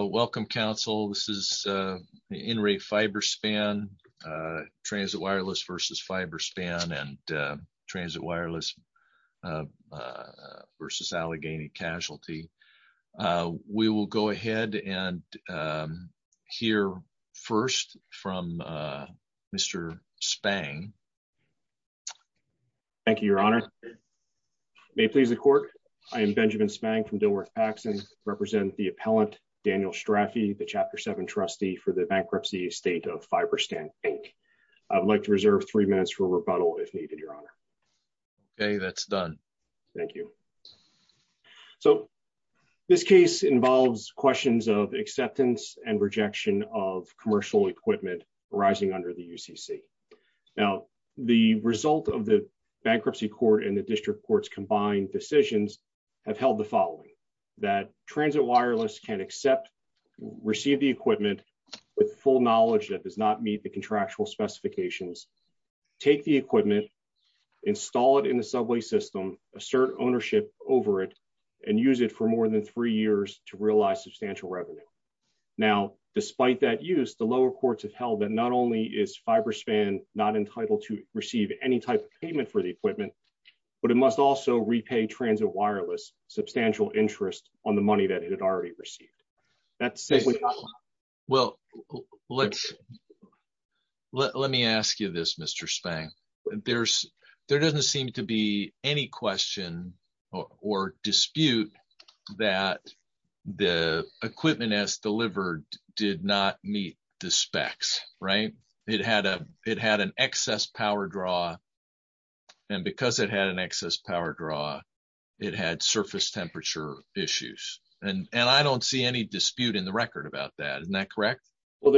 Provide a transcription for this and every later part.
Welcome, Council. This is In Re Fiber-Span, Transit Wireless vs. Fiber-Span, and Transit Wireless vs. Allegheny Casualty. We will go ahead and hear first from Mr. Spang. Thank you, Your Honor. May it please the Court, I am Benjamin Spang from Dilworth-Paxson, represent the appellant, Daniel Straffi, the Chapter 7 trustee for the bankruptcy estate of Fiber-Span Inc. I'd like to reserve three minutes for rebuttal if needed, Your Honor. Okay, that's done. Thank you. So, this case involves questions of acceptance and rejection of commercial equipment arising under the UCC. Now, the result of the bankruptcy court and the Transit Wireless can accept, receive the equipment with full knowledge that does not meet the contractual specifications, take the equipment, install it in the subway system, assert ownership over it, and use it for more than three years to realize substantial revenue. Now, despite that use, the lower courts have held that not only is Fiber-Span not entitled to receive any type of payment for the equipment, but it must also repay Transit Wireless substantial interest on the money that it had already received. Well, let me ask you this, Mr. Spang. There doesn't seem to be any question or dispute that the equipment, as delivered, did not meet the specs, right? It had an excess power draw, and because it had an excess power draw, it had surface temperature issues, and I don't see any dispute in the record about that. Isn't that correct? Well,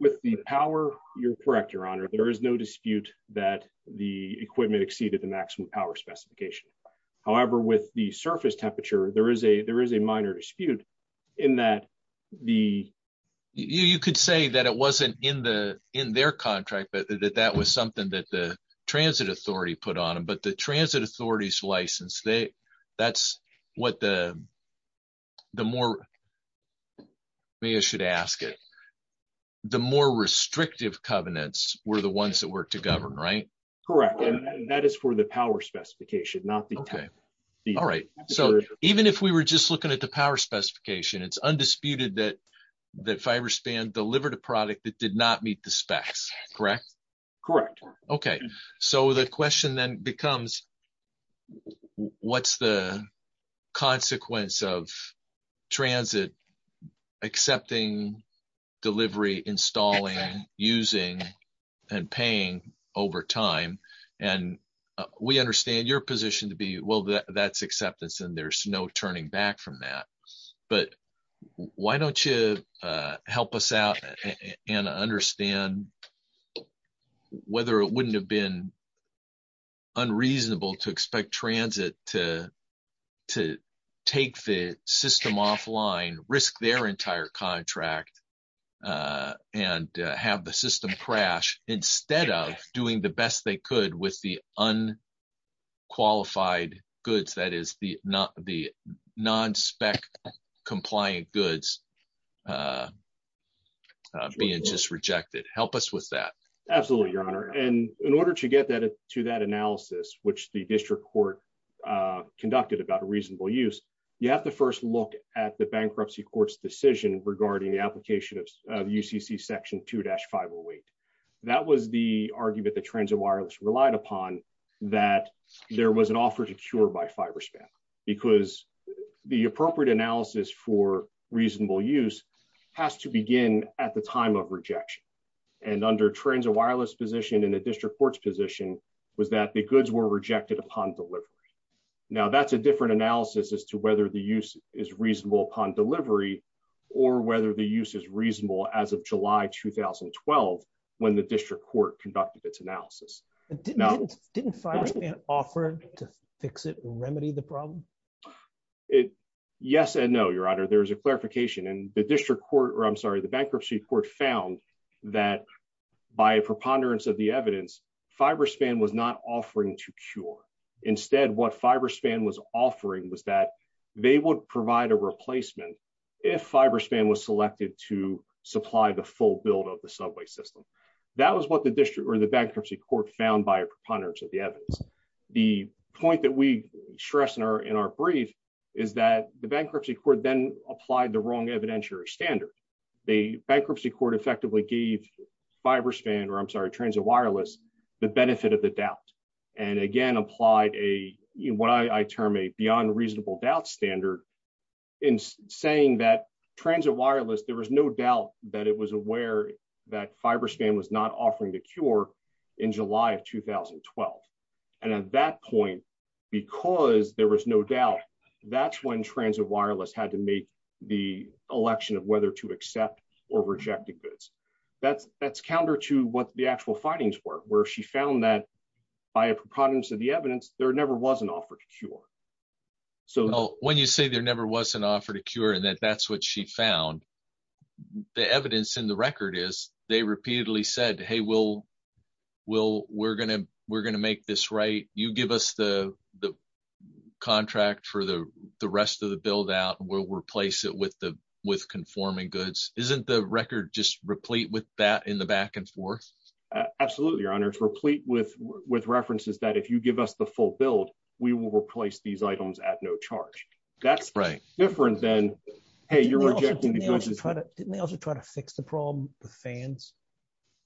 with the power, you're correct, Your Honor. There is no dispute that the equipment exceeded the maximum power specification. However, with the surface temperature, there is a minor dispute in that the... You could say that it wasn't in their contract, but that was something that the Transit Authority put on them, but the Transit Authority's license, that's what the more... Maybe I should ask it. The more restrictive covenants were the ones that were to govern, right? Correct, and that is for the power specification, not the... Okay, all right. So, even if we were just looking at the power specification, it's undisputed that Fiber-Span delivered a product that did not meet the specs, correct? Correct. Okay, so the question then becomes, what's the consequence of transit accepting delivery, installing, using, and paying over time? And we understand your position to be, well, that's acceptance, and there's no turning back from that, but why don't you help us out and understand whether it wouldn't have been unreasonable to expect transit to take the system offline, risk their entire contract, and have the system crash instead of doing the best they could with unqualified goods, that is, the non-spec compliant goods being just rejected. Help us with that. Absolutely, Your Honor, and in order to get to that analysis, which the district court conducted about a reasonable use, you have to first look at the bankruptcy court's decision regarding the application of UCC section 2-508. That was the argument that Transit Wireless relied upon that there was an offer to cure by Fiber-Span because the appropriate analysis for reasonable use has to begin at the time of rejection, and under Transit Wireless position in the district court's position was that the goods were rejected upon delivery. Now, that's a different analysis as to whether the use is reasonable upon delivery or whether the use is not. Didn't Fiber-Span offer to fix it or remedy the problem? Yes and no, Your Honor. There's a clarification, and the bankruptcy court found that by a preponderance of the evidence, Fiber-Span was not offering to cure. Instead, what Fiber-Span was offering was that they would provide a replacement if Fiber-Span was selected to supply the full build of the subway system. That was what the district or the bankruptcy court found by a preponderance of the evidence. The point that we stress in our brief is that the bankruptcy court then applied the wrong evidentiary standard. The bankruptcy court effectively gave Transit Wireless the benefit of the doubt and again applied what I term a beyond reasonable doubt standard in saying that there was no doubt that Transit Wireless was aware that Fiber-Span was not offering to cure in July of 2012. At that point, because there was no doubt, that's when Transit Wireless had to make the election of whether to accept or reject the goods. That's counter to what the actual findings were where she found that by a preponderance of the evidence, there never was an offer to cure and that that's what she found. The evidence in the record is they repeatedly said, hey, we're going to make this right. You give us the contract for the rest of the build out, we'll replace it with conforming goods. Isn't the record just replete with that in the back and forth? Absolutely, Your Honor. It's replete with references that if you give us the full build, we will replace these items at no charge. That's right. Different than, hey, you're rejecting the goods. Didn't they also try to fix the problem with fans?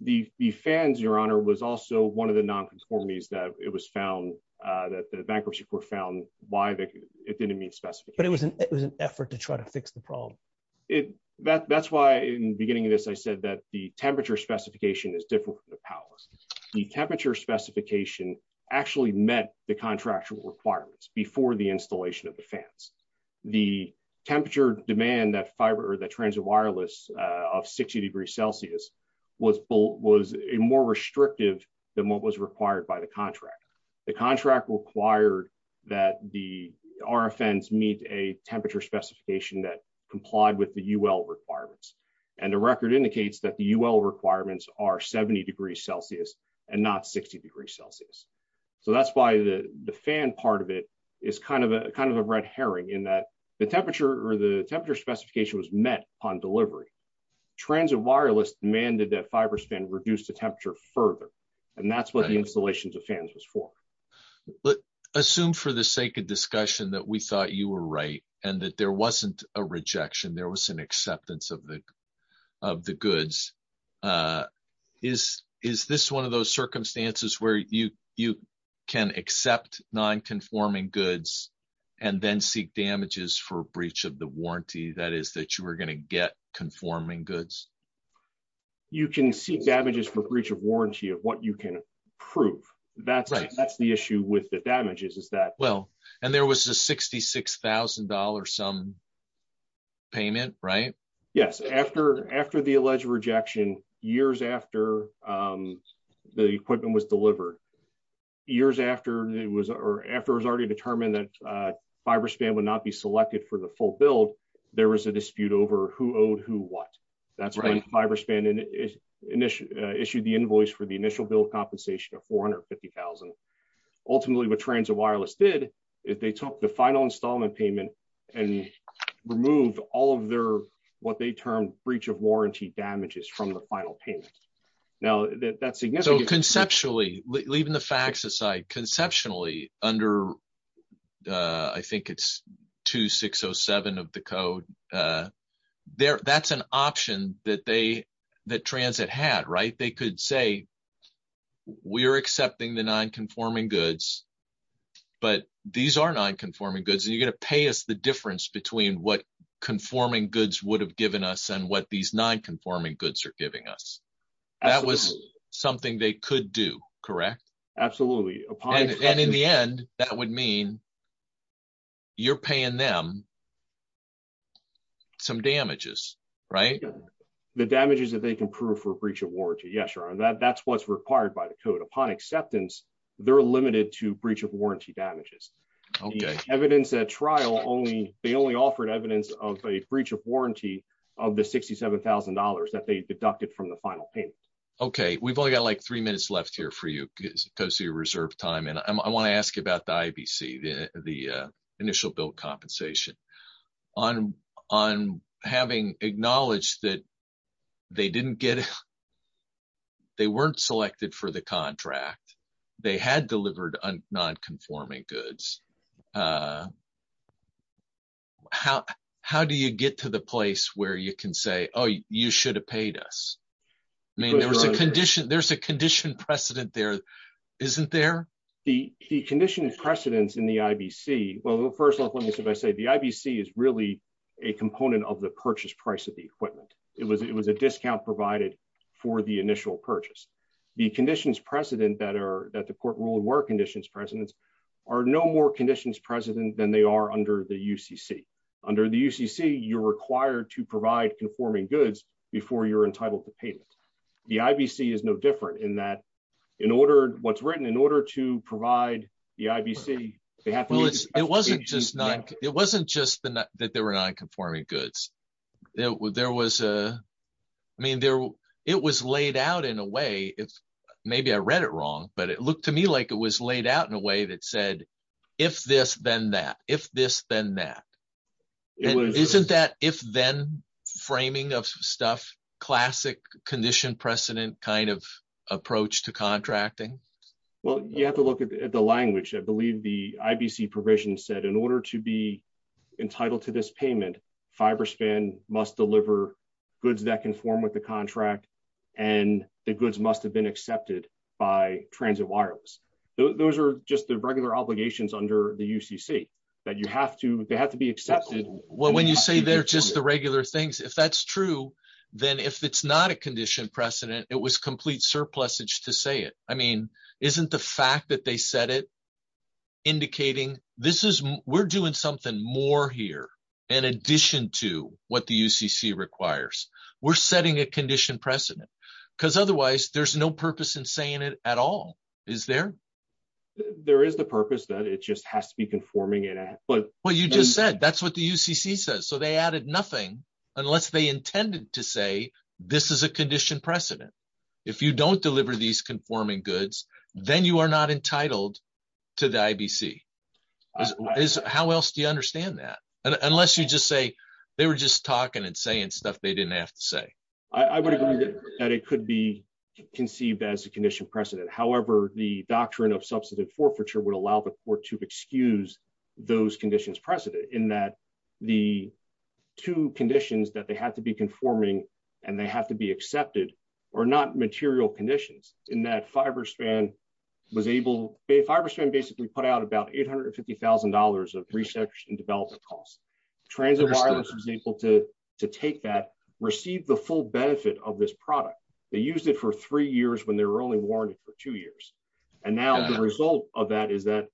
The fans, Your Honor, was also one of the non-conformities that it was found that the bankruptcy court found why it didn't meet specification. But it was an effort to try to fix the problem. That's why in the beginning of this, I said that the temperature specification is different from the powers. The temperature specification actually met the contractual requirements before the installation of the fans. The temperature demand that transit wireless of 60 degrees Celsius was more restrictive than what was required by the contract. The contract required that the RFNs meet a temperature specification that complied with the UL requirements. And the record indicates that the UL requirements are 70 degrees Celsius and not 60 degrees Celsius. So that's why the fan part of it is kind of a red herring in that the temperature or the temperature specification was met upon delivery. Transit wireless demanded that fiber span reduced the temperature further. And that's what the installations of fans was for. But assume for the sake of discussion that we thought you were right and that there wasn't a rejection, there was an acceptance of the goods. Is this one of those circumstances where you can accept non-conforming goods and then seek damages for breach of the warranty? That is that you are going to get conforming goods? You can seek damages for breach of warranty of what you can prove. That's the issue with the damages. And there was a $66,000 some payment, right? Yes. After the alleged rejection, years after the equipment was delivered, years after it was already determined that fiber span would not be selected for the full build, there was a dispute over who owed who what. That's when fiber span issued the invoice for the initial bill of compensation of $450,000. Ultimately, what transit wireless did is they took final installment payment and removed all of their what they termed breach of warranty damages from the final payment. Now, that's significant. So conceptually, leaving the facts aside, conceptually, under I think it's 2607 of the code, that's an option that transit had, right? They could say, we're accepting the non-conforming goods, but these are non-conforming goods. You're going to pay us the difference between what conforming goods would have given us and what these non-conforming goods are giving us. That was something they could do, correct? Absolutely. And in the end, that would mean you're paying them some damages, right? The damages that they can prove for breach of warranty. Yeah, sure. That's what's required by the code. Upon acceptance, they're limited to breach of warranty damages. Evidence at trial, they only offered evidence of a breach of warranty of the $67,000 that they deducted from the final payment. Okay. We've only got like three minutes left here for you because of your reserve time. And I want to ask you about the IBC, the initial bill compensation. On having acknowledged that they weren't selected for the contract, they had delivered non-conforming goods. How do you get to the place where you can say, oh, you should have paid us? I mean, there's a condition precedent there, isn't there? The condition precedents in the IBC. Well, first off, let me say, the IBC is really a component of the purchase price of the equipment. It was a discount provided for the initial purchase. The conditions precedent that the court ruled were conditions precedents are no more conditions precedent than they are under the UCC. Under the UCC, you're required to provide conforming goods before you're entitled to payment. The IBC is no different in that what's written in order to provide the IBC. It wasn't just that there were non-conforming goods. It was laid out in a way, maybe I read it wrong, but it looked to me like it was laid out in a way that said, if this, then that, if this, then that. Isn't that if then framing of stuff, condition precedent kind of approach to contracting? Well, you have to look at the language. I believe the IBC provision said in order to be entitled to this payment, Fiberspan must deliver goods that conform with the contract and the goods must have been accepted by Transit Wireless. Those are just the regular obligations under the UCC that you have to, they have to be accepted. Well, when you say they're just the regular things, if that's true, then if it's not a condition precedent, it was complete surplusage to say it. I mean, isn't the fact that they said it indicating this is, we're doing something more here in addition to what the UCC requires. We're setting a condition precedent because otherwise there's no purpose in saying it at all. Is there? There is the purpose that it just has to be conforming it. But what you just said, that's what the UCC says. So they added nothing unless they intended to say, this is a condition precedent. If you don't deliver these conforming goods, then you are not entitled to the IBC. How else do you understand that? Unless you just say, they were just talking and saying stuff they didn't have to say. I would agree that it could be conceived as a condition precedent. However, the doctrine of substantive forfeiture would allow the court to excuse those conditions precedent in that the two conditions that they have to be conforming and they have to be accepted or not material conditions in that Fiberspan was able, Fiberspan basically put out about $850,000 of resection development costs. Transit Wireless was able to take that, receive the full benefit of this product. They used it for three years when they were only warranted for two years. And now the result of that is that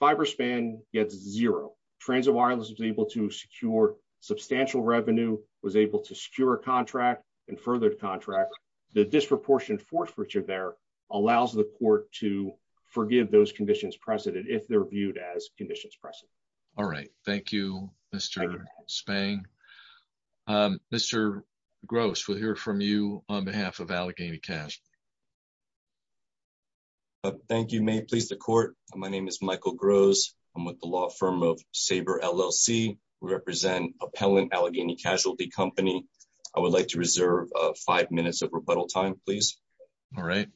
Fiberspan gets zero. Transit Wireless was able to secure substantial revenue, was able to secure a contract and furthered contract. The disproportionate forfeiture there allows the court to forgive those conditions precedent if they're viewed as conditions precedent. All right. Thank you, Mr. Spang. Mr. Gross, we'll hear from you on behalf of Allegheny Casualty. Thank you. May it please the court. My name is Michael Gross. I'm with the law firm of Saber LLC. We represent Appellant Allegheny Casualty Company. I would like to reserve five minutes of rebuttal time, please. All right.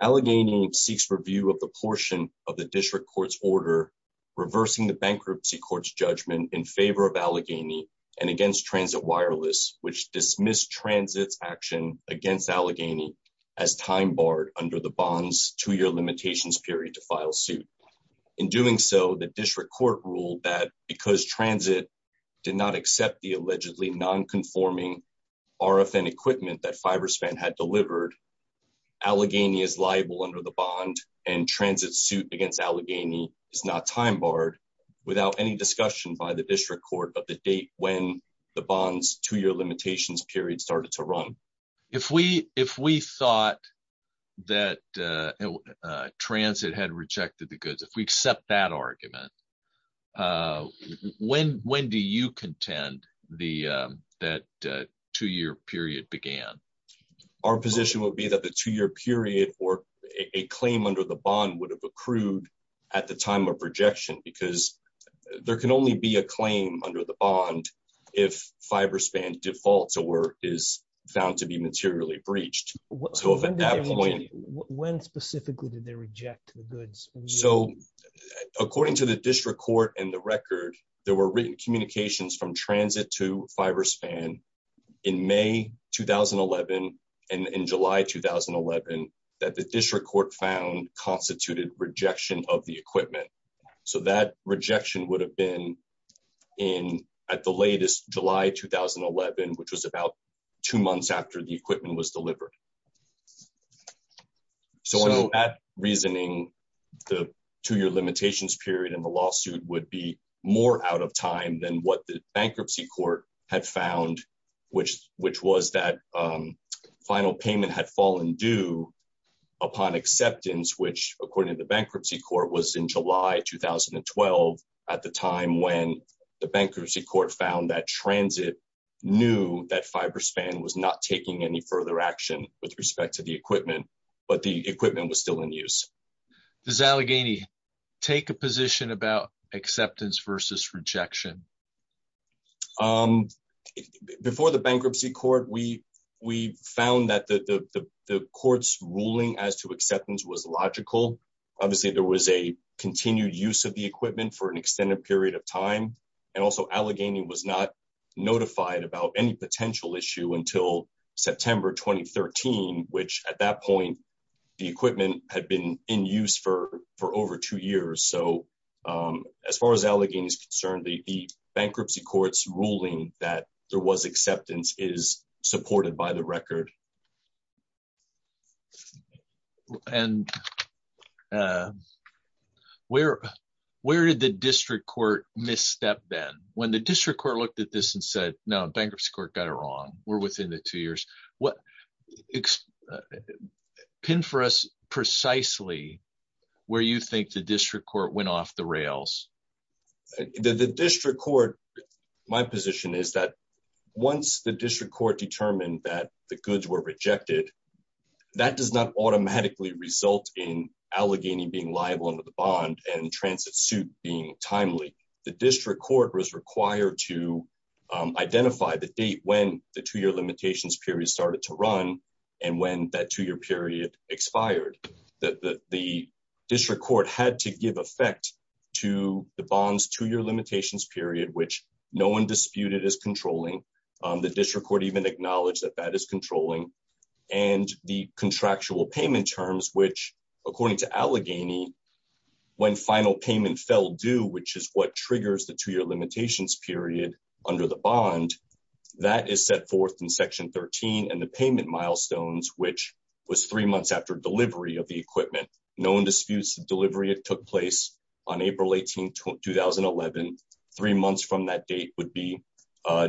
Allegheny seeks review of the portion of the district court's order reversing the bankruptcy court's judgment in favor of Allegheny and against Transit Wireless, which dismissed Transit's action against Allegheny as time barred under the bond's two-year limitations period to file suit. In doing so, the district court ruled that because Transit did not accept the allegedly nonconforming RFN equipment that Fiberspan had delivered, Allegheny is liable under the bond and Transit's suit against Allegheny is not time barred without any discussion by the district court of the date when the bond's two-year limitations period started to run. If we thought that Transit had rejected the goods, if we accept that argument, when do you contend that two-year period began? Our position would be that the two-year period or a claim under the bond would have accrued at the time of rejection because there can only be a claim under the bond if Fiberspan defaults or is found to be materially breached. When specifically did they reject the goods? According to the district court and the record, there were written communications from Transit to Fiberspan in May 2011 and in July 2011 that the district court found constituted rejection of the equipment. That rejection would have been in at the latest July 2011, which was about two months after the equipment was delivered. So that reasoning, the two-year limitations period in the lawsuit would be more out of time than what the bankruptcy court had found, which was that final payment had fallen due upon acceptance, which according to the bankruptcy court was in any further action with respect to the equipment, but the equipment was still in use. Does Allegheny take a position about acceptance versus rejection? Before the bankruptcy court, we found that the court's ruling as to acceptance was logical. Obviously, there was a continued use of the equipment for an extended period of time. And also, Allegheny was not notified about any potential issue until September 2013, which at that point, the equipment had been in use for over two years. So as far as Allegheny is concerned, the bankruptcy court's ruling that there was acceptance is supported by the record. And where did the district court misstep then? When the district court looked at this and said, no, bankruptcy court got it wrong. We're within the two years. Pin for us precisely where you think the district court went off the rails. The district court, my position is that once the district court determined that goods were rejected, that does not automatically result in Allegheny being liable under the bond and transit suit being timely. The district court was required to identify the date when the two year limitations period started to run and when that two year period expired. The district court had to give effect to the bond's two year limitations period, which no one disputed is controlling. The district court even acknowledged that that is controlling. And the contractual payment terms, which according to Allegheny, when final payment fell due, which is what triggers the two year limitations period under the bond, that is set forth in section 13 and the payment milestones, which was three months after delivery of the equipment. No one disputes the delivery. It took place on April 18, 2011. Three months from that date would be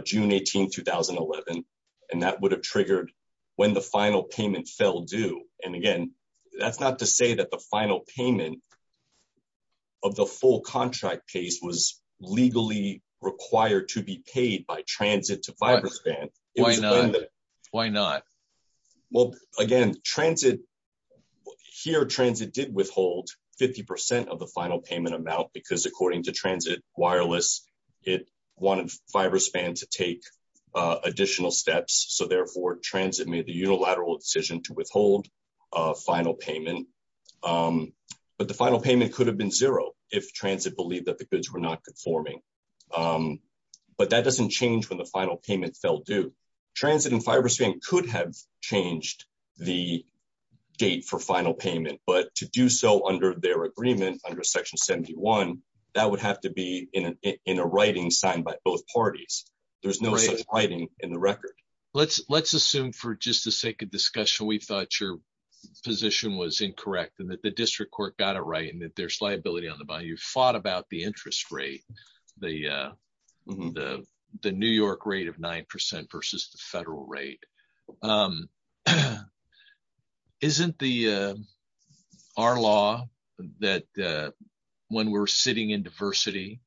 June 18, 2011. And that would have triggered when the final payment fell due. And again, that's not to say that the final payment of the full contract case was legally required to be paid by transit to Fiberspan. Why not? Well, again, transit here, transit did withhold 50% of the Fiberspan to take additional steps. So therefore transit made the unilateral decision to withhold final payment. But the final payment could have been zero if transit believed that the goods were not conforming. But that doesn't change when the final payment fell due. Transit and Fiberspan could have changed the date for final payment, but to do so under their agreement under section 71, that would have to be in a writing signed by both parties. There's no such writing in the record. Let's assume for just the sake of discussion, we thought your position was incorrect and that the district court got it right and that there's liability on the bond. You've fought about the interest rate, the New York rate of 9% versus the federal rate. Isn't our law that when we're in diversity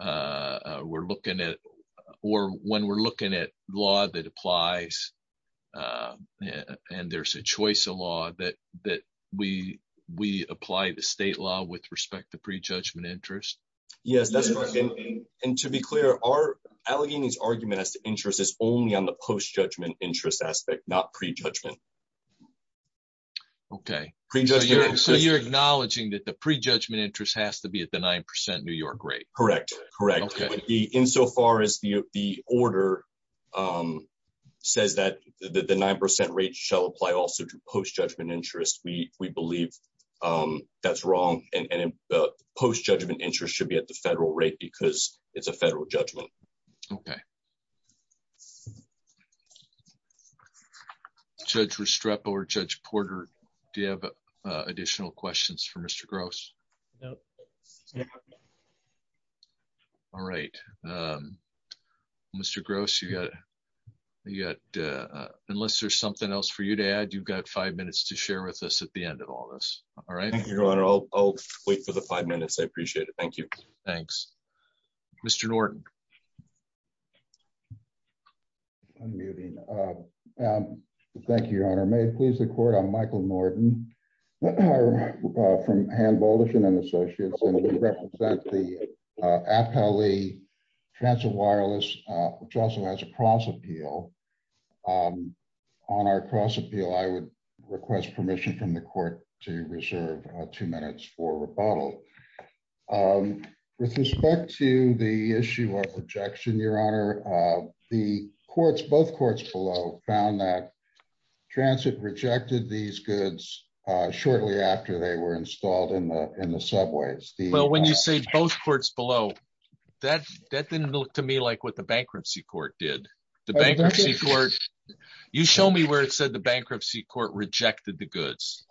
or when we're looking at law that applies and there's a choice of law that we apply the state law with respect to pre-judgment interest? Yes, that's correct. And to be clear, Allegheny's argument as to interest is only on the post-judgment interest aspect, not pre-judgment. Okay. So you're acknowledging that the pre-judgment interest has to be at the 9% New York rate? Correct. Correct. Okay. Insofar as the order says that the 9% rate shall apply also to post-judgment interest, we believe that's wrong and post-judgment interest should be at the 9% rate. All right. Mr. Gross, unless there's something else for you to add, you've got five minutes to share with us at the end of all this. All right. I'll wait for the five minutes. I may please the court. I'm Michael Norton from Hand Volition and Associates, and we represent the Appellee Transit Wireless, which also has a cross appeal. On our cross appeal, I would request permission from the court to reserve two minutes for rebuttal. With respect to the issue of rejection, your honor, the courts, both courts below found that transit rejected these goods shortly after they were installed in the subways. Well, when you say both courts below, that didn't look to me like what the bankruptcy court did. You show me where it said the bankruptcy court rejected the goods.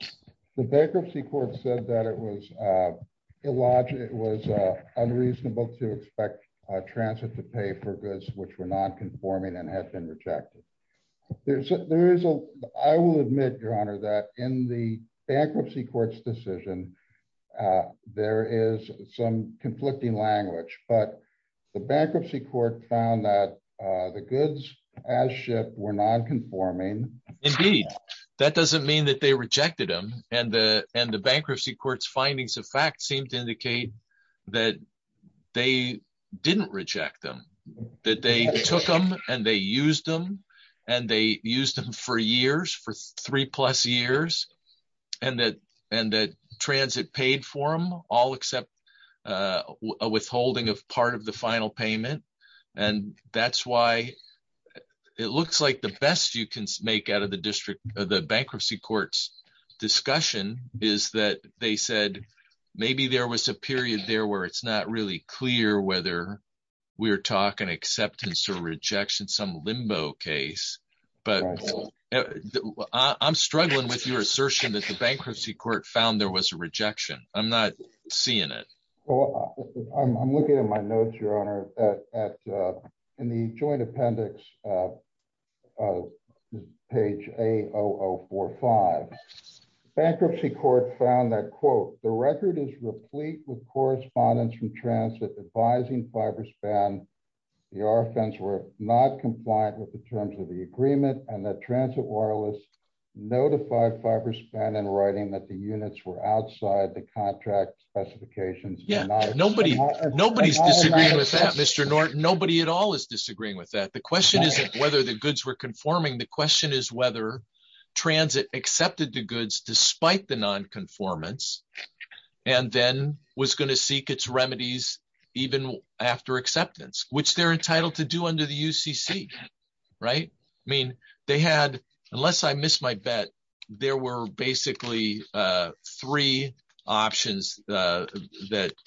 The bankruptcy court said that it was unreasonable to expect transit to pay for goods which were nonconforming and had rejected. I will admit, your honor, that in the bankruptcy court's decision, there is some conflicting language, but the bankruptcy court found that the goods as shipped were nonconforming. Indeed. That doesn't mean that they rejected them, and the bankruptcy court's findings of fact seem to indicate that they didn't reject them, that they took them and they used them, and they used them for years, for three plus years, and that transit paid for them, all except a withholding of part of the final payment. That's why it looks like the best you can make out of the bankruptcy court's discussion is that they said maybe there was a period there where it's not really clear whether we're talking acceptance or rejection, some limbo case, but I'm struggling with your assertion that the bankruptcy court found there was a rejection. I'm not seeing it. Well, I'm looking at my notes, your honor, in the joint correspondence from transit advising Fiberspan the RFNs were not compliant with the terms of the agreement and that transit wireless notified Fiberspan in writing that the units were outside the contract specifications. Yeah, nobody's disagreeing with that, Mr. Norton. Nobody at all is disagreeing with that. The question isn't whether the goods were conforming. The question is whether transit accepted the goods despite the non-conformance and then was going to seek its remedies even after acceptance, which they're entitled to do under the UCC, right? I mean, they had, unless I miss my bet, there were basically three options that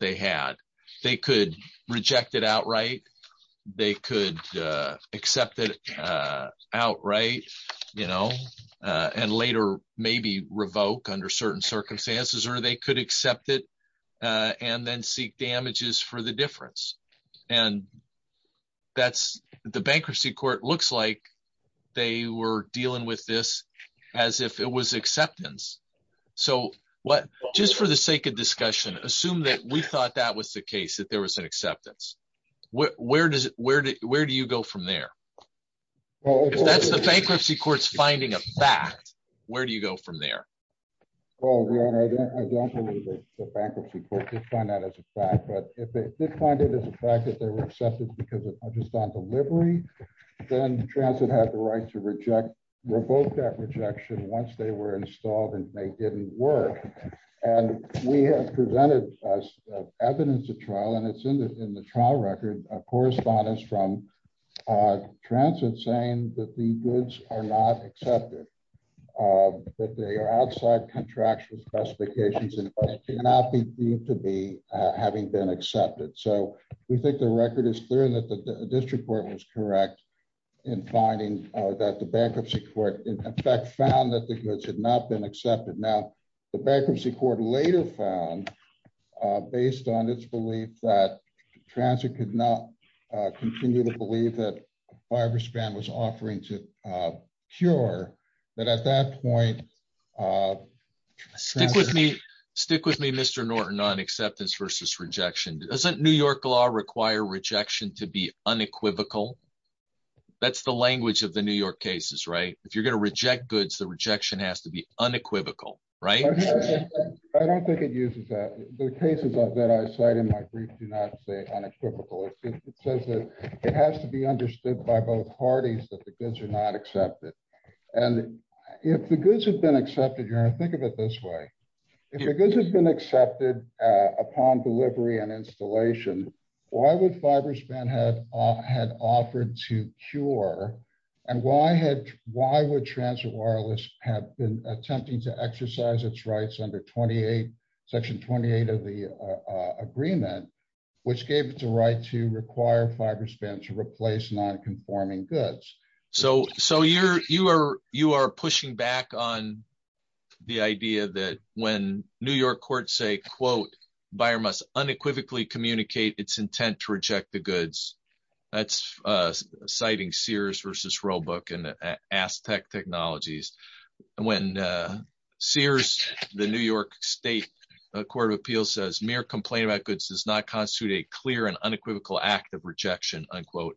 they had. They could reject it outright. They could accept it outright and later maybe revoke under certain circumstances or they could accept it and then seek damages for the difference. The bankruptcy court looks like they were dealing with this as if it was acceptance. Just for the sake of discussion, assume that we thought that was the case, that there was an acceptance. Where do you go from there? Well, if that's the bankruptcy court's finding a fact, where do you go from there? Well, your honor, I don't believe that the bankruptcy court did find that as a fact, but if they did find it as a fact that they were accepted because of understand delivery, then transit had the right to reject, revoke that rejection once they were evidence of trial and it's in the trial record, a correspondence from transit saying that the goods are not accepted, that they are outside contractual specifications and cannot be deemed to be having been accepted. So we think the record is clear that the district court was correct in finding that the bankruptcy court in fact found that the goods had not been accepted. Now, bankruptcy court later found based on its belief that transit could not continue to believe that fiber span was offering to cure that at that point. Stick with me, stick with me, Mr. Norton on acceptance versus rejection. Doesn't New York law require rejection to be unequivocal? That's the language of the New York cases, right? If you're going to reject goods, the rejection has to be unequivocal, right? I don't think it uses that. The cases that I cite in my brief do not say unequivocal. It says that it has to be understood by both parties that the goods are not accepted. And if the goods have been accepted, you're going to think of it this way. If the goods have been accepted upon delivery and installation, why would fiber span had offered to cure? And why would transit wireless have been attempting to exercise its rights under section 28 of the agreement, which gave it the right to require fiber span to replace non-conforming goods? So you are pushing back on the idea that when New York courts say, quote, it's intent to reject the goods, that's citing Sears versus Roebuck and Aztec technologies. When Sears, the New York state court of appeals says mere complaint about goods does not constitute a clear and unequivocal act of rejection, unquote,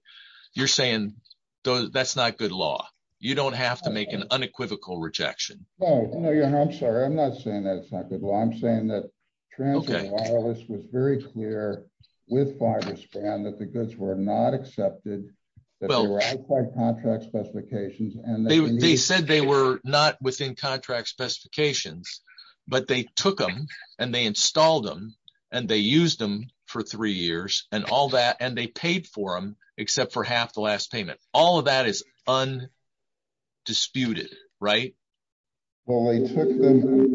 you're saying that's not good law. You don't have to make an unequivocal rejection. Oh, no, I'm sorry. I'm not saying that's not I'm saying that transit wireless was very clear with fiber span that the goods were not accepted. They said they were not within contract specifications, but they took them and they installed them and they used them for three years and all that. And they paid for them except for half the last payment. All of that is undisputed, right? Well, they took them.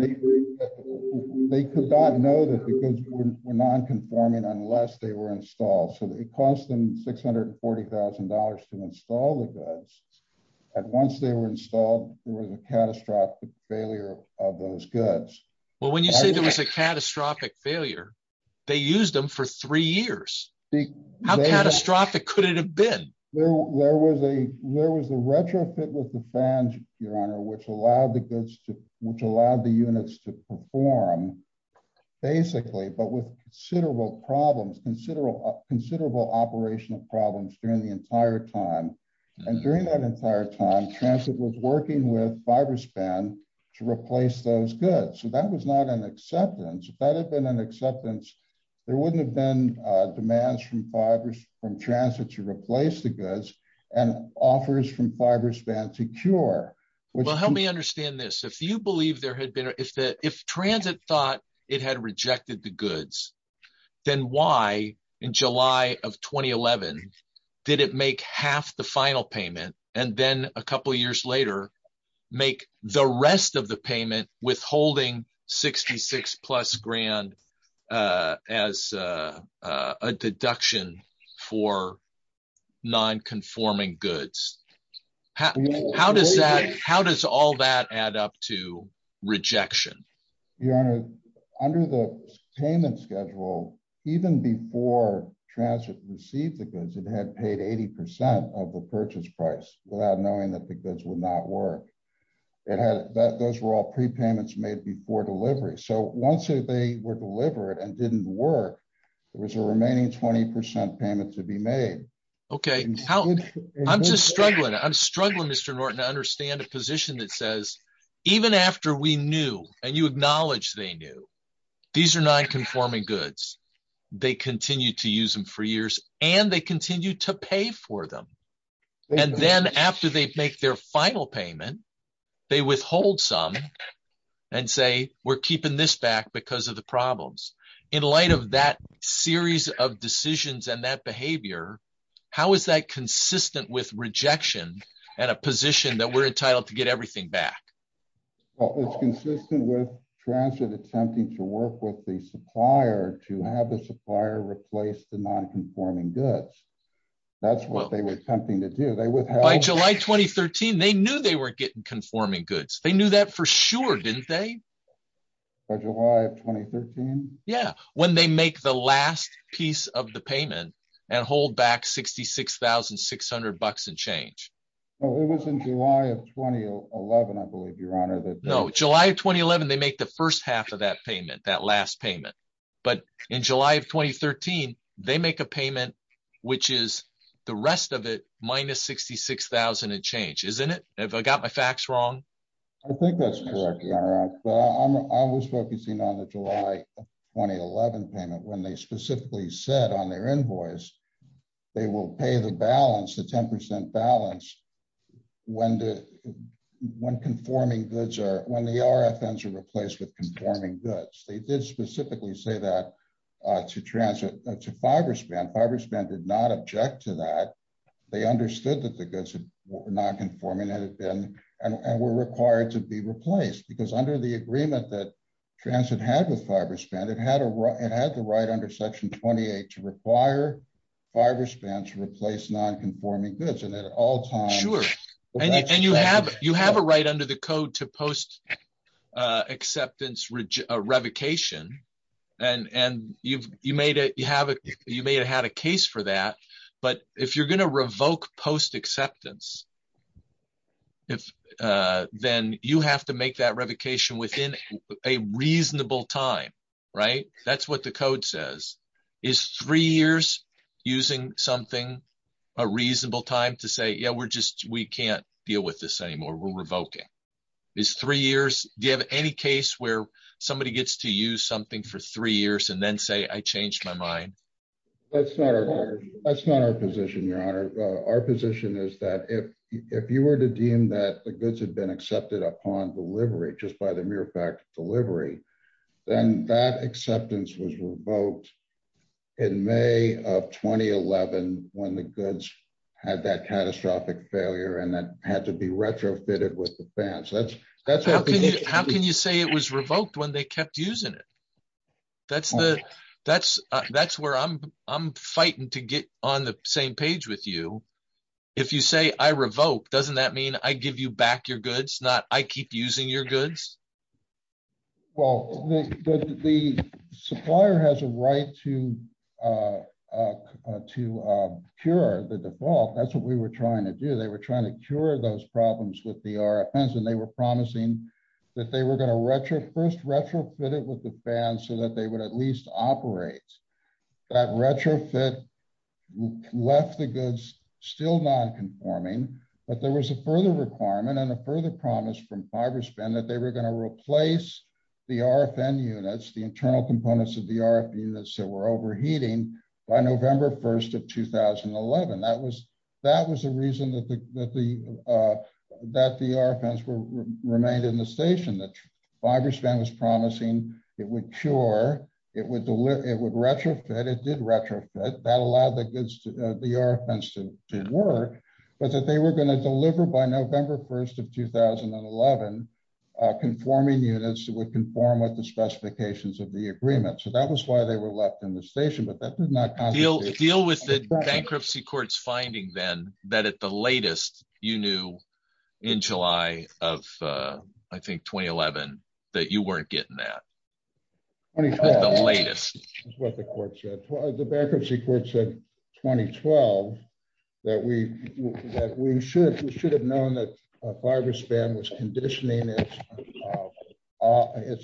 They could not know that the goods were nonconforming unless they were installed. So they cost them six hundred and forty thousand dollars to install the goods. And once they were installed, there was a catastrophic failure of those goods. Well, when you say there was a catastrophic failure, they used them for three years. How catastrophic could it have been? There was a there was a retrofit with the fans, your honor, which allowed the goods to which allowed the units to perform basically. But with considerable problems, considerable, considerable operational problems during the entire time and during that entire time, transit was working with fiber span to replace those goods. So that was not an acceptance that had been an acceptance. There wouldn't have been demands from transit to replace the goods and offers from fiber span to cure. Well, help me understand this. If you believe there had been if that if transit thought it had rejected the goods, then why in July of 2011 did it make half the final payment and then a for nonconforming goods? How does that how does all that add up to rejection? Your honor, under the payment schedule, even before transit received the goods, it had paid 80 percent of the purchase price without knowing that the goods would not work. It had that those were all prepayments made before delivery. So once they were delivered and didn't work, there was a remaining 20 percent payment to be made. OK, how I'm just struggling. I'm struggling, Mr. Norton, to understand a position that says even after we knew and you acknowledge they knew these are nonconforming goods, they continue to use them for years and they continue to pay for them. And then after they make their final payment, they withhold some and say we're keeping this back because of the problems in light of that series of decisions and that behavior. How is that consistent with rejection and a position that we're entitled to get everything back? Well, it's consistent with transit attempting to work with the supplier to have the supplier replace the nonconforming goods. That's what they were attempting to do. They would like July 2013. They knew they were getting conforming goods. They knew that for sure, didn't they? By July of 2013. Yeah. When they make the last piece of the payment and hold back sixty six thousand six hundred bucks and change. Well, it was in July of 2011, I believe, your honor. No, July of 2011. They make the first half of that payment, that last payment. But in July of 2013, they make a payment, which is the rest of it minus sixty six thousand and change, isn't it? I got my facts wrong. I think that's correct. Well, I was focusing on the July 2011 payment when they specifically said on their invoice they will pay the balance, the 10 percent balance when the when conforming goods are when the RFNs are replaced with conforming goods. They did specifically say that to transfer to Fiberspan. Fiberspan did not object to that. They understood that the goods were not conforming and had been and were required to be replaced because under the agreement that transit had with Fiberspan, it had it had the right under section twenty eight to require Fiberspan to replace nonconforming goods. And at all time. Sure. And you have you have a right under the code to post acceptance revocation. And and you've you made it you have it. You may have had a case for that. But if you're going to revoke post acceptance. If then you have to make that revocation within a reasonable time. Right. That's what the code says is three years using something, a reasonable time to say, yeah, we're just we can't deal with this anymore. We're revoking this three years. Do you have any case where somebody gets to use something for three years and then say, I changed my mind? That's not our that's not our position, your honor. Our position is that if if you were to deem that the goods had been accepted upon delivery, just by the mere fact of delivery, then that acceptance was revoked in May of twenty eleven when the goods had that catastrophic failure and that had to be retrofitted with the fans. How can you say it was revoked when they kept using it? That's the that's that's where I'm I'm fighting to get on the same page with you. If you say I revoke, doesn't that mean I give you back your goods? Not I keep using your goods. Well, the supplier has a right to to cure the default. That's what we were trying to do. They were trying to cure those problems with the RFNs and they were promising that they were going to retro first retrofit it with the fans so that they would at least operate that retrofit left the goods still nonconforming. But there was a further requirement and a further promise from Fiberspan that they were going to by November 1st of 2011. That was that was the reason that the that the RFNs remained in the station that Fiberspan was promising it would cure it would it would retrofit it did retrofit that allowed the goods to the RFNs to work, but that they were going to deliver by November 1st of 2011 conforming units that would conform with the specifications of the agreement. So that was why they were left in the station, but that did not deal deal with the bankruptcy courts finding then that at the latest you knew in July of I think 2011 that you weren't getting that. The bankruptcy court said 2012 that we that we should we should have known that Fiberspan was conditioning its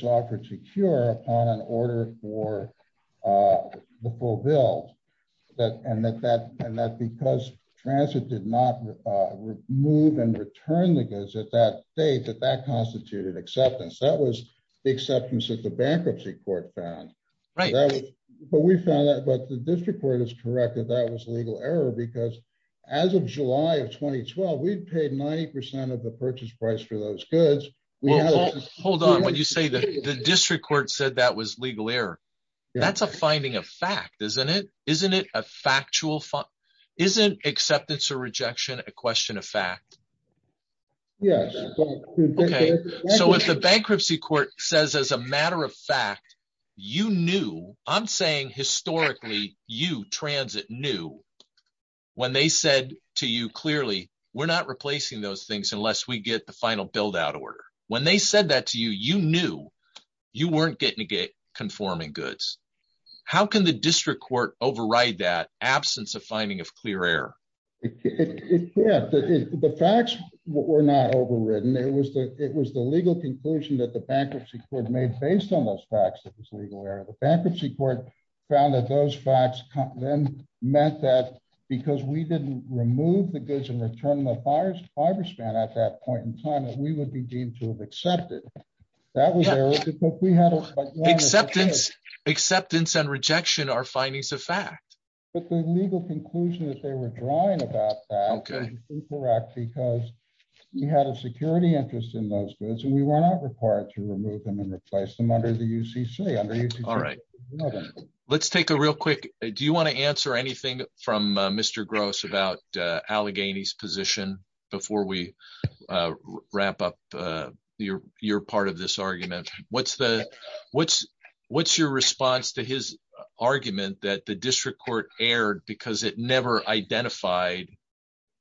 offer to cure upon an order for the full build that and that that and that because transit did not move and return the goods at that date that that constituted acceptance. That was the acceptance that the bankruptcy court found. But we found that but the district court is correct that that was legal error because as of July of 2012 we'd paid 90% of the purchase price for those goods. Well hold on when you say that the district court said that was legal error. That's a finding of fact isn't it? Isn't it a factual fact? Isn't acceptance or rejection a question of fact? Yes. Okay so if the bankruptcy court says as a matter of fact you knew I'm saying historically you transit knew when they said to you clearly we're not replacing those things unless we get the final build out order. When they said that to you you knew you weren't getting to get conforming goods. How can the district court override that absence of finding of clear error? Yeah the facts were not overridden. It was the it was the legal conclusion that the bankruptcy court made based on those facts that was legal error. The bankruptcy court found that those facts then meant that because we didn't remove the goods and return the buyers fiber span at that point in time that we would be deemed to have accepted. That was there. Acceptance and rejection are findings of fact. But the legal conclusion that they were drawing about that was incorrect because we had a security interest in those goods and we let's take a real quick do you want to answer anything from Mr. Gross about Allegheny's position before we wrap up your your part of this argument? What's the what's what's your response to his argument that the district court erred because it never identified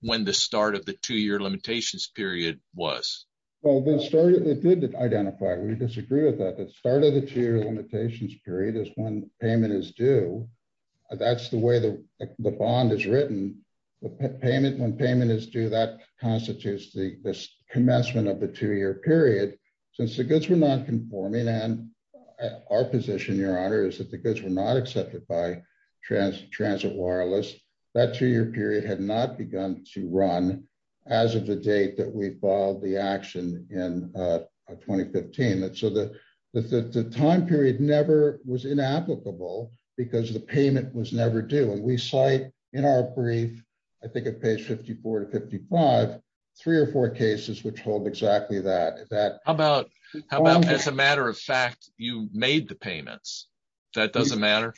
when the start of the two-year limitations period was? Well they started they did identify we disagree with that start of the two-year limitations period is when payment is due. That's the way the the bond is written. The payment when payment is due that constitutes the commencement of the two-year period. Since the goods were non-conforming and our position your honor is that the goods were not accepted by transit wireless that two-year period had not begun to run as of the date that we filed the action in 2015. So the the time period never was inapplicable because the payment was never due and we cite in our brief I think at page 54 to 55 three or four cases which hold exactly that. How about how about as a matter of fact you made the payments that doesn't matter?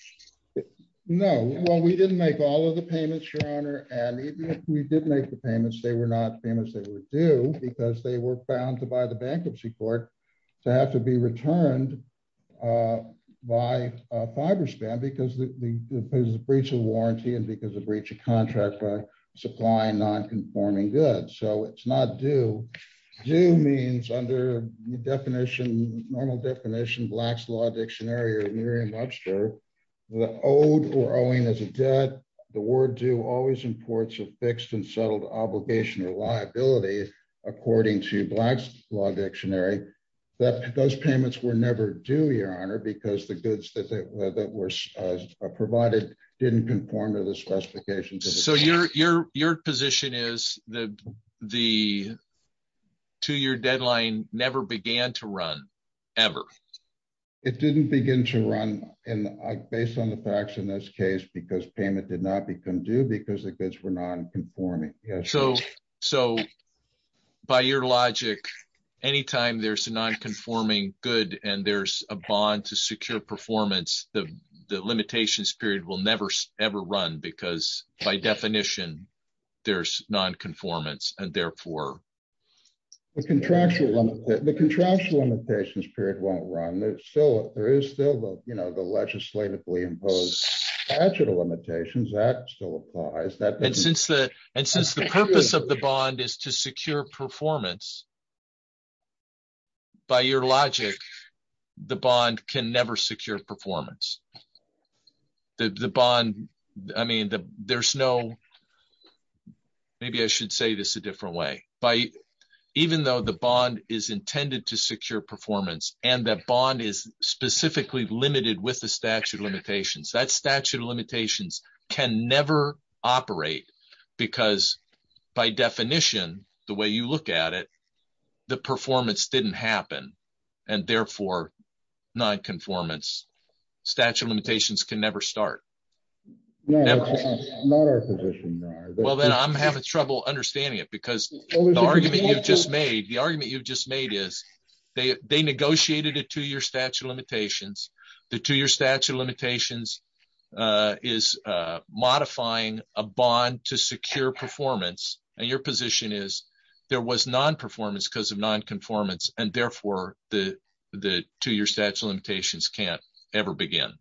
No well we didn't make all of the payments your honor and even if we did make the payments they were not famous they were due because they were found to by the bankruptcy court to have to be returned by a fiber span because the there's a breach of warranty and because of breach of contract by supplying non-conforming goods. So it's not due. Due means under the definition normal definition Black's Law Dictionary or Merriam-Webster the owed or owing as a debt the word due always imports a fixed and settled obligation or liability according to Black's Law Dictionary that those payments were never due your honor because the goods that were provided didn't conform to the specifications. So your position is that the two-year deadline never began to run ever? It didn't begin to run and based on the facts in this case because payment did not become due because the goods were non-conforming. So by your logic anytime there's a non-conforming good and there's a bond to secure performance the limitations period will never ever run because by definition there's non-conformance and therefore? The contractual limitations period won't run there's still there is still the you know the legislatively imposed statute of limitations that still applies that and since the and since the purpose of the bond is to secure performance by your logic the bond can never secure performance the bond I mean the there's no maybe I should say this a different way by even though the bond is intended to secure performance and the bond is specifically limited with the statute of limitations that statute of limitations can never operate because by definition the way you look at it the performance didn't happen and therefore non-conformance statute of limitations can never start. Well then I'm having trouble understanding it because the argument you've just made the they negotiated a two-year statute of limitations the two-year statute of limitations is modifying a bond to secure performance and your position is there was non-performance because of non-conformance and therefore the two-year statute of limitations can't ever begin.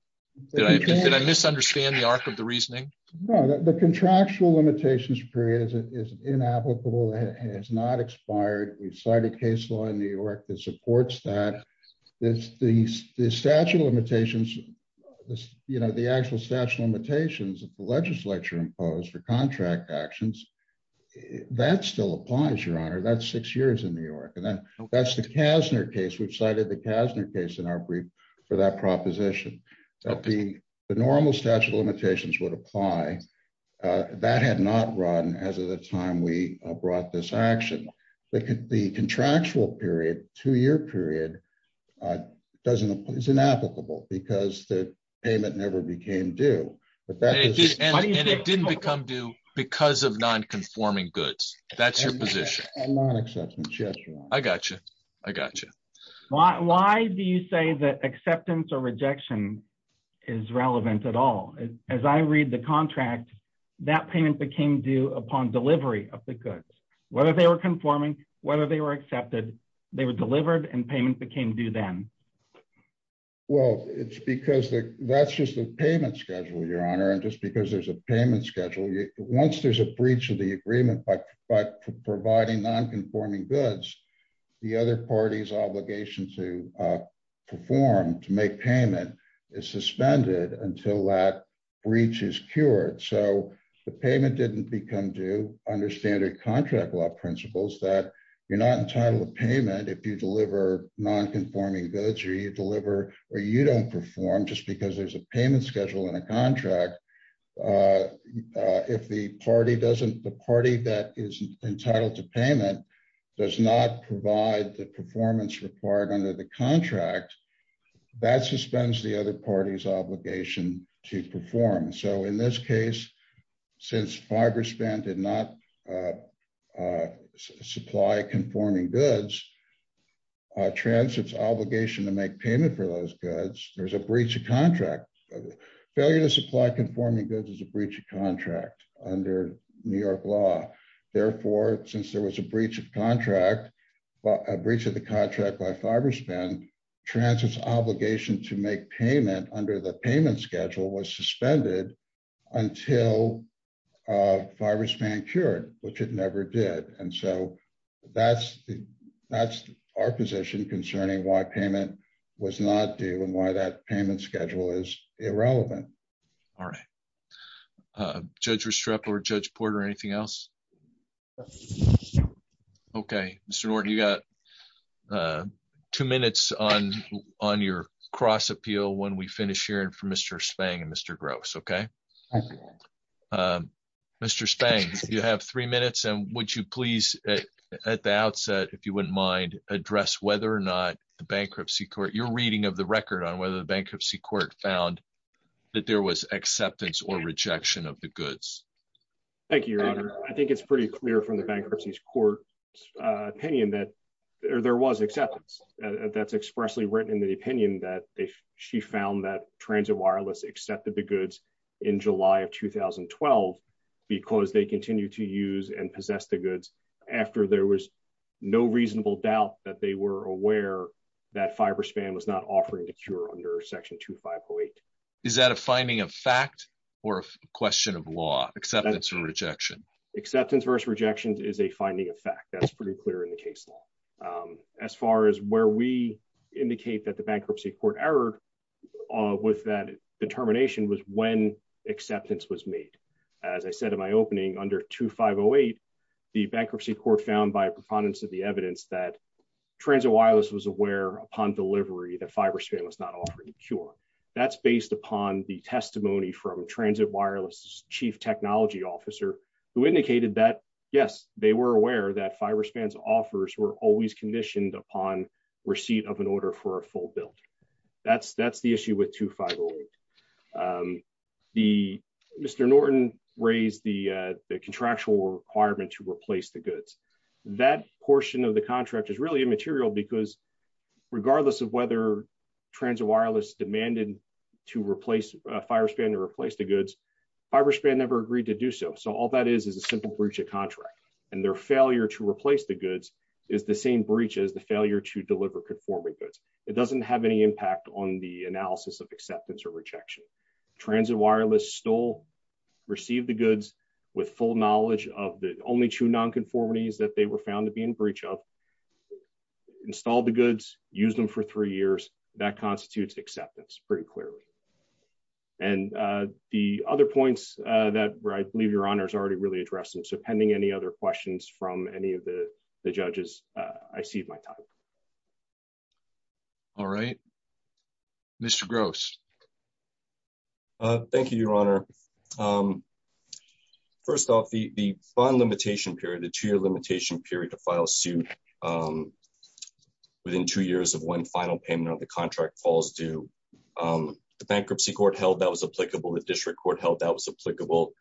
Did I misunderstand the arc of the reasoning? No the contractual limitations period is inapplicable and it's not expired we've cited case law in New York that supports that this the statute of limitations this you know the actual statute of limitations that the legislature imposed for contract actions that still applies your honor that's six years in New York and then that's the Kasner case we've cited the Kasner case in our brief for that proposition that the the normal statute of limitations would apply that had not run as of the time we brought this action the contractual period two-year period doesn't it's inapplicable because the payment never became due and it didn't become due because of non-conforming goods that's your position I got you I got you why why do you say that acceptance or rejection is relevant at all as I read the contract that payment became due upon delivery of the goods whether they were conforming whether they were accepted they were delivered and payment became due then well it's because that's just the payment schedule your honor and just because there's a payment schedule once there's a breach of the form to make payment is suspended until that breach is cured so the payment didn't become due under standard contract law principles that you're not entitled to payment if you deliver non-conforming goods or you deliver or you don't perform just because there's a payment schedule in a contract if the party doesn't the party that is entitled to payment does not provide the performance required under the contract that suspends the other party's obligation to perform so in this case since fiber span did not supply conforming goods transits obligation to make payment for those goods there's a breach of contract failure to supply conforming goods is a breach of contract under New York law therefore since there was a breach of the contract by fiber span transit's obligation to make payment under the payment schedule was suspended until fiber span cured which it never did and so that's the that's our position concerning why payment was not due and why that payment schedule is irrelevant all right uh judge restrepo or judge porter anything else okay mr norton you got uh two minutes on on your cross appeal when we finish hearing for mr spang and mr gross okay um mr spang you have three minutes and would you please at the outset if you wouldn't mind address whether or not the bankruptcy court your reading of the record on was acceptance or rejection of the goods thank you your honor i think it's pretty clear from the bankruptcy's court uh opinion that there was acceptance that's expressly written in the opinion that if she found that transit wireless accepted the goods in july of 2012 because they continue to use and possess the goods after there was no reasonable doubt that they were aware that fiber span was not offering the cure under section 2508 is that a finding of fact or a question of law acceptance or rejection acceptance versus rejection is a finding of fact that's pretty clear in the case law as far as where we indicate that the bankruptcy court error with that determination was when acceptance was made as i said in my opening under 2508 the bankruptcy court found by a preponderance of the evidence that transit wireless was aware upon delivery that fiber span was not offering cure that's based upon the testimony from transit wireless chief technology officer who indicated that yes they were aware that fiber spans offers were always conditioned upon receipt of an order for a full build that's that's the issue with 2508 um the mr norton raised the uh the contractual requirement to replace the goods that portion of the contract is really immaterial because regardless of whether transit wireless demanded to replace a fire span to replace the goods fiber span never agreed to do so so all that is is a simple breach of contract and their failure to replace the goods is the same breach as the failure to deliver conforming goods it doesn't have any impact on the analysis of acceptance or rejection transit wireless stole received the goods with full knowledge of the only two non-conformities that they were found to be in breach of installed the goods used them for three years that constitutes acceptance pretty clearly and uh the other points uh that i believe your honor has already really addressed them so pending any other questions from any of the the judges i cede my time all right mr gross uh thank you your honor um first off the the bond limitation period the two-year limitation period to file suit um within two years of one final payment of the contract falls due um the bankruptcy court held that was applicable the district court held that was applicable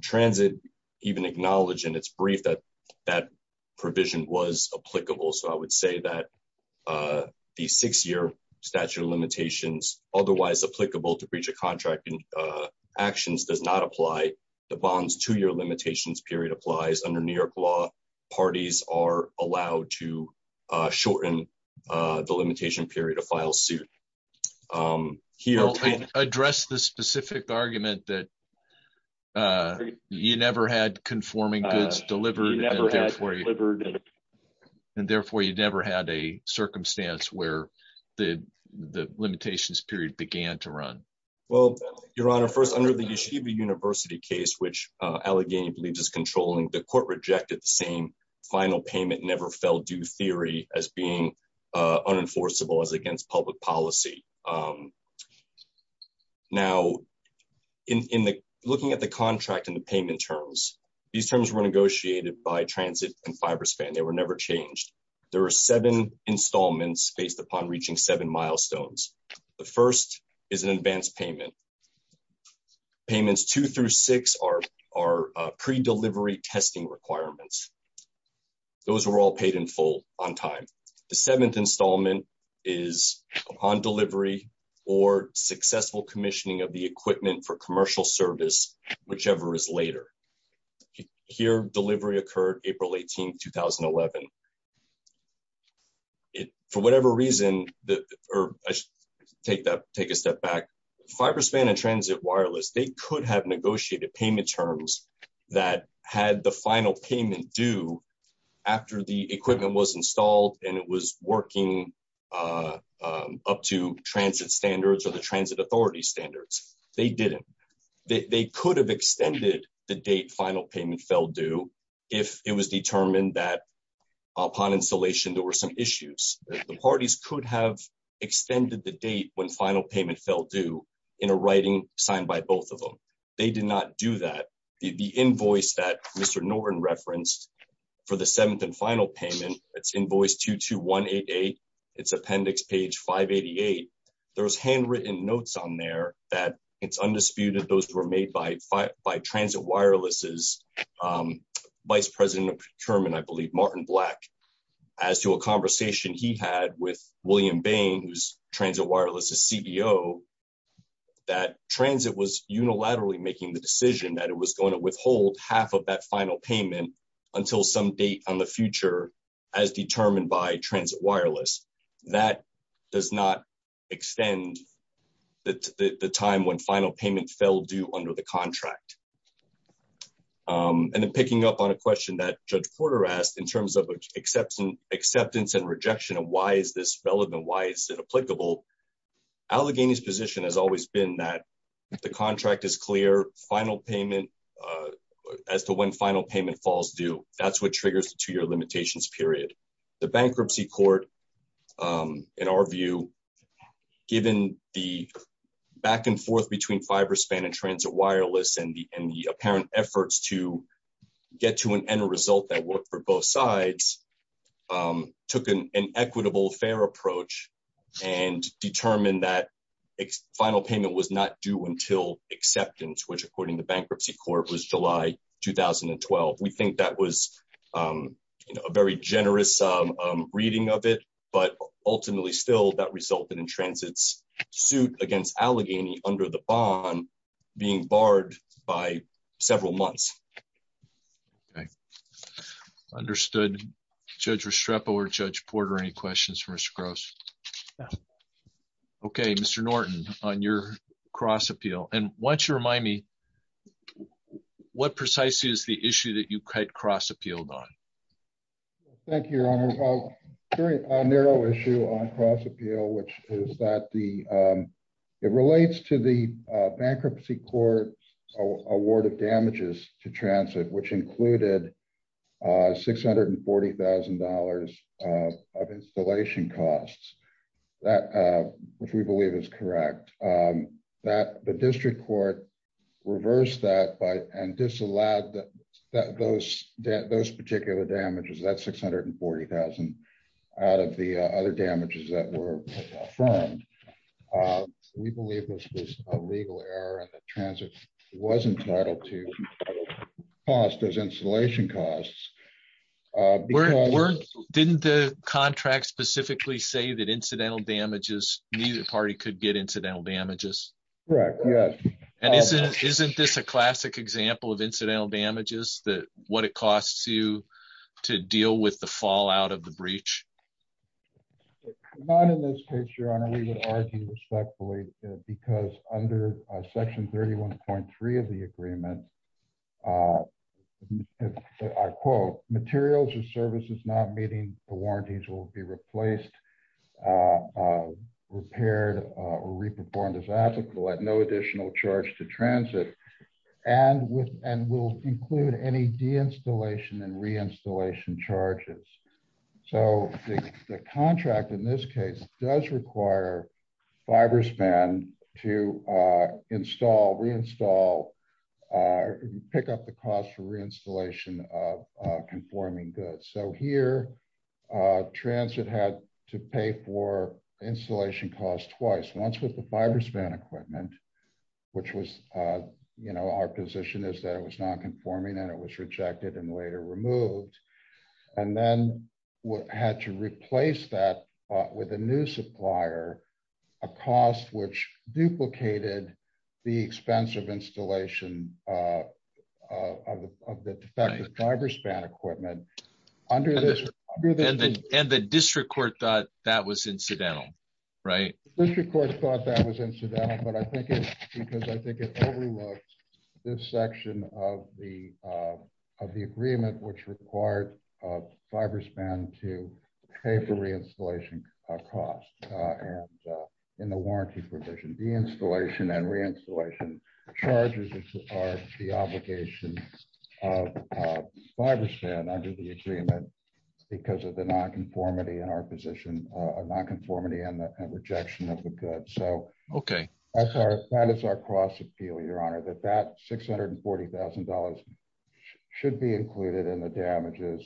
transit even acknowledged in its brief that that provision was applicable so i would say that uh the six-year statute of limitations otherwise applicable to breach of contracting actions does not apply the bonds two-year limitations period applies under new york law parties are allowed to uh shorten uh the limitation period to file suit um here address the specific argument that uh you never had conforming goods delivered has delivered and therefore you never had a circumstance where the the limitations period began to run well your honor first under the yeshiva university case which uh allegheny believes is controlling the court rejected the same final payment never fell due theory as being unenforceable as against public policy um now in in the looking at the contract in the payment terms these terms were negotiated by transit and fiber span they were never changed there are seven installments based upon reaching seven milestones the first is an advanced payment payments two through six are are pre-delivery testing requirements those were all paid in full on time the seventh installment is upon delivery or successful commissioning of the here delivery occurred april 18 2011 it for whatever reason the or i should take that take a step back fiber span and transit wireless they could have negotiated payment terms that had the final payment due after the equipment was installed and it was working uh up to transit standards or the transit authority standards they didn't they could have extended the date final payment fell due if it was determined that upon installation there were some issues the parties could have extended the date when final payment fell due in a writing signed by both of them they did not do that the invoice that mr norton referenced for the seventh and final payment it's invoice 22188 it's appendix page 588 there was handwritten notes on there that it's undisputed those were made by by transit wireless's um vice president of procurement i believe martin black as to a conversation he had with william bain who's transit wireless's cbo that transit was unilaterally making the decision that it was going to withhold half of that final payment until some date on the future as determined by transit wireless that does not extend the the time when final payment fell due under the contract um and then picking up on a question that judge porter asked in terms of acceptance acceptance and rejection of why is this relevant why is it applicable allegheny's position has always been that if the contract is clear final payment uh as to when final payment falls due that's what court um in our view given the back and forth between fiber span and transit wireless and the and the apparent efforts to get to an end result that worked for both sides um took an equitable fair approach and determined that final payment was not due until acceptance which according to reading of it but ultimately still that resulted in transit's suit against allegheny under the bond being barred by several months okay understood judge restrepo or judge porter any questions for mr gross okay mr norton on your cross appeal and once you remind me what precisely is the issue that you cut cross appealed on thank you your honor very narrow issue on cross appeal which is that the um it relates to the bankruptcy court award of damages to transit which included uh six hundred and forty thousand dollars of installation costs that uh which we believe is correct um that the district court reversed that by and disallowed that that those that those particular damages that's six hundred and forty thousand out of the other damages that were affirmed uh we believe this is a legal error transit was entitled to cost as installation costs uh we're didn't the contract specifically say that incidental damages neither party could get incidental damages correct yes and isn't isn't this a classic example of incidental damages that what it costs you to deal with the fallout of the breach not in this case your honor we would argue respectfully because under section 31.3 of the agreement i quote materials or services not meeting the warranties will be replaced repaired or re-performed as applicable at no additional charge to transit and with and will include any de-installation and reinstallation charges so the contract in this case does require fiber span to uh install reinstall uh pick up the cost for reinstallation of uh conforming goods so here uh transit had to pay for installation cost twice once with the fiber span equipment which was uh you know our position is that it was non-conforming and it was rejected and later removed and then had to replace that with a new supplier a cost which duplicated the expense of installation uh of the defective driver's span equipment under this and the district court thought that was incidental right district court thought that was incidental but i think it's because i think it overlooks this section of the uh of the agreement which required uh fiber span to pay for reinstallation uh cost uh and uh in the warranty provision de-installation and reinstallation charges are the obligation of fiber span under the agreement because of the non-conformity in our position uh non-conformity and the rejection of the good so okay that's our that is our cross appeal your honor that that six hundred and forty thousand dollars should be included in the damages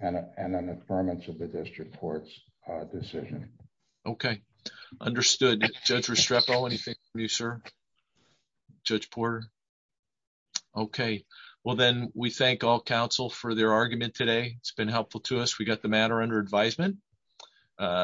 and an affirmance of the district court's uh decision okay understood judge restrepo anything for you sir judge porter okay well then we thank all council for their argument today it's been helpful to us we got the matter under advisement uh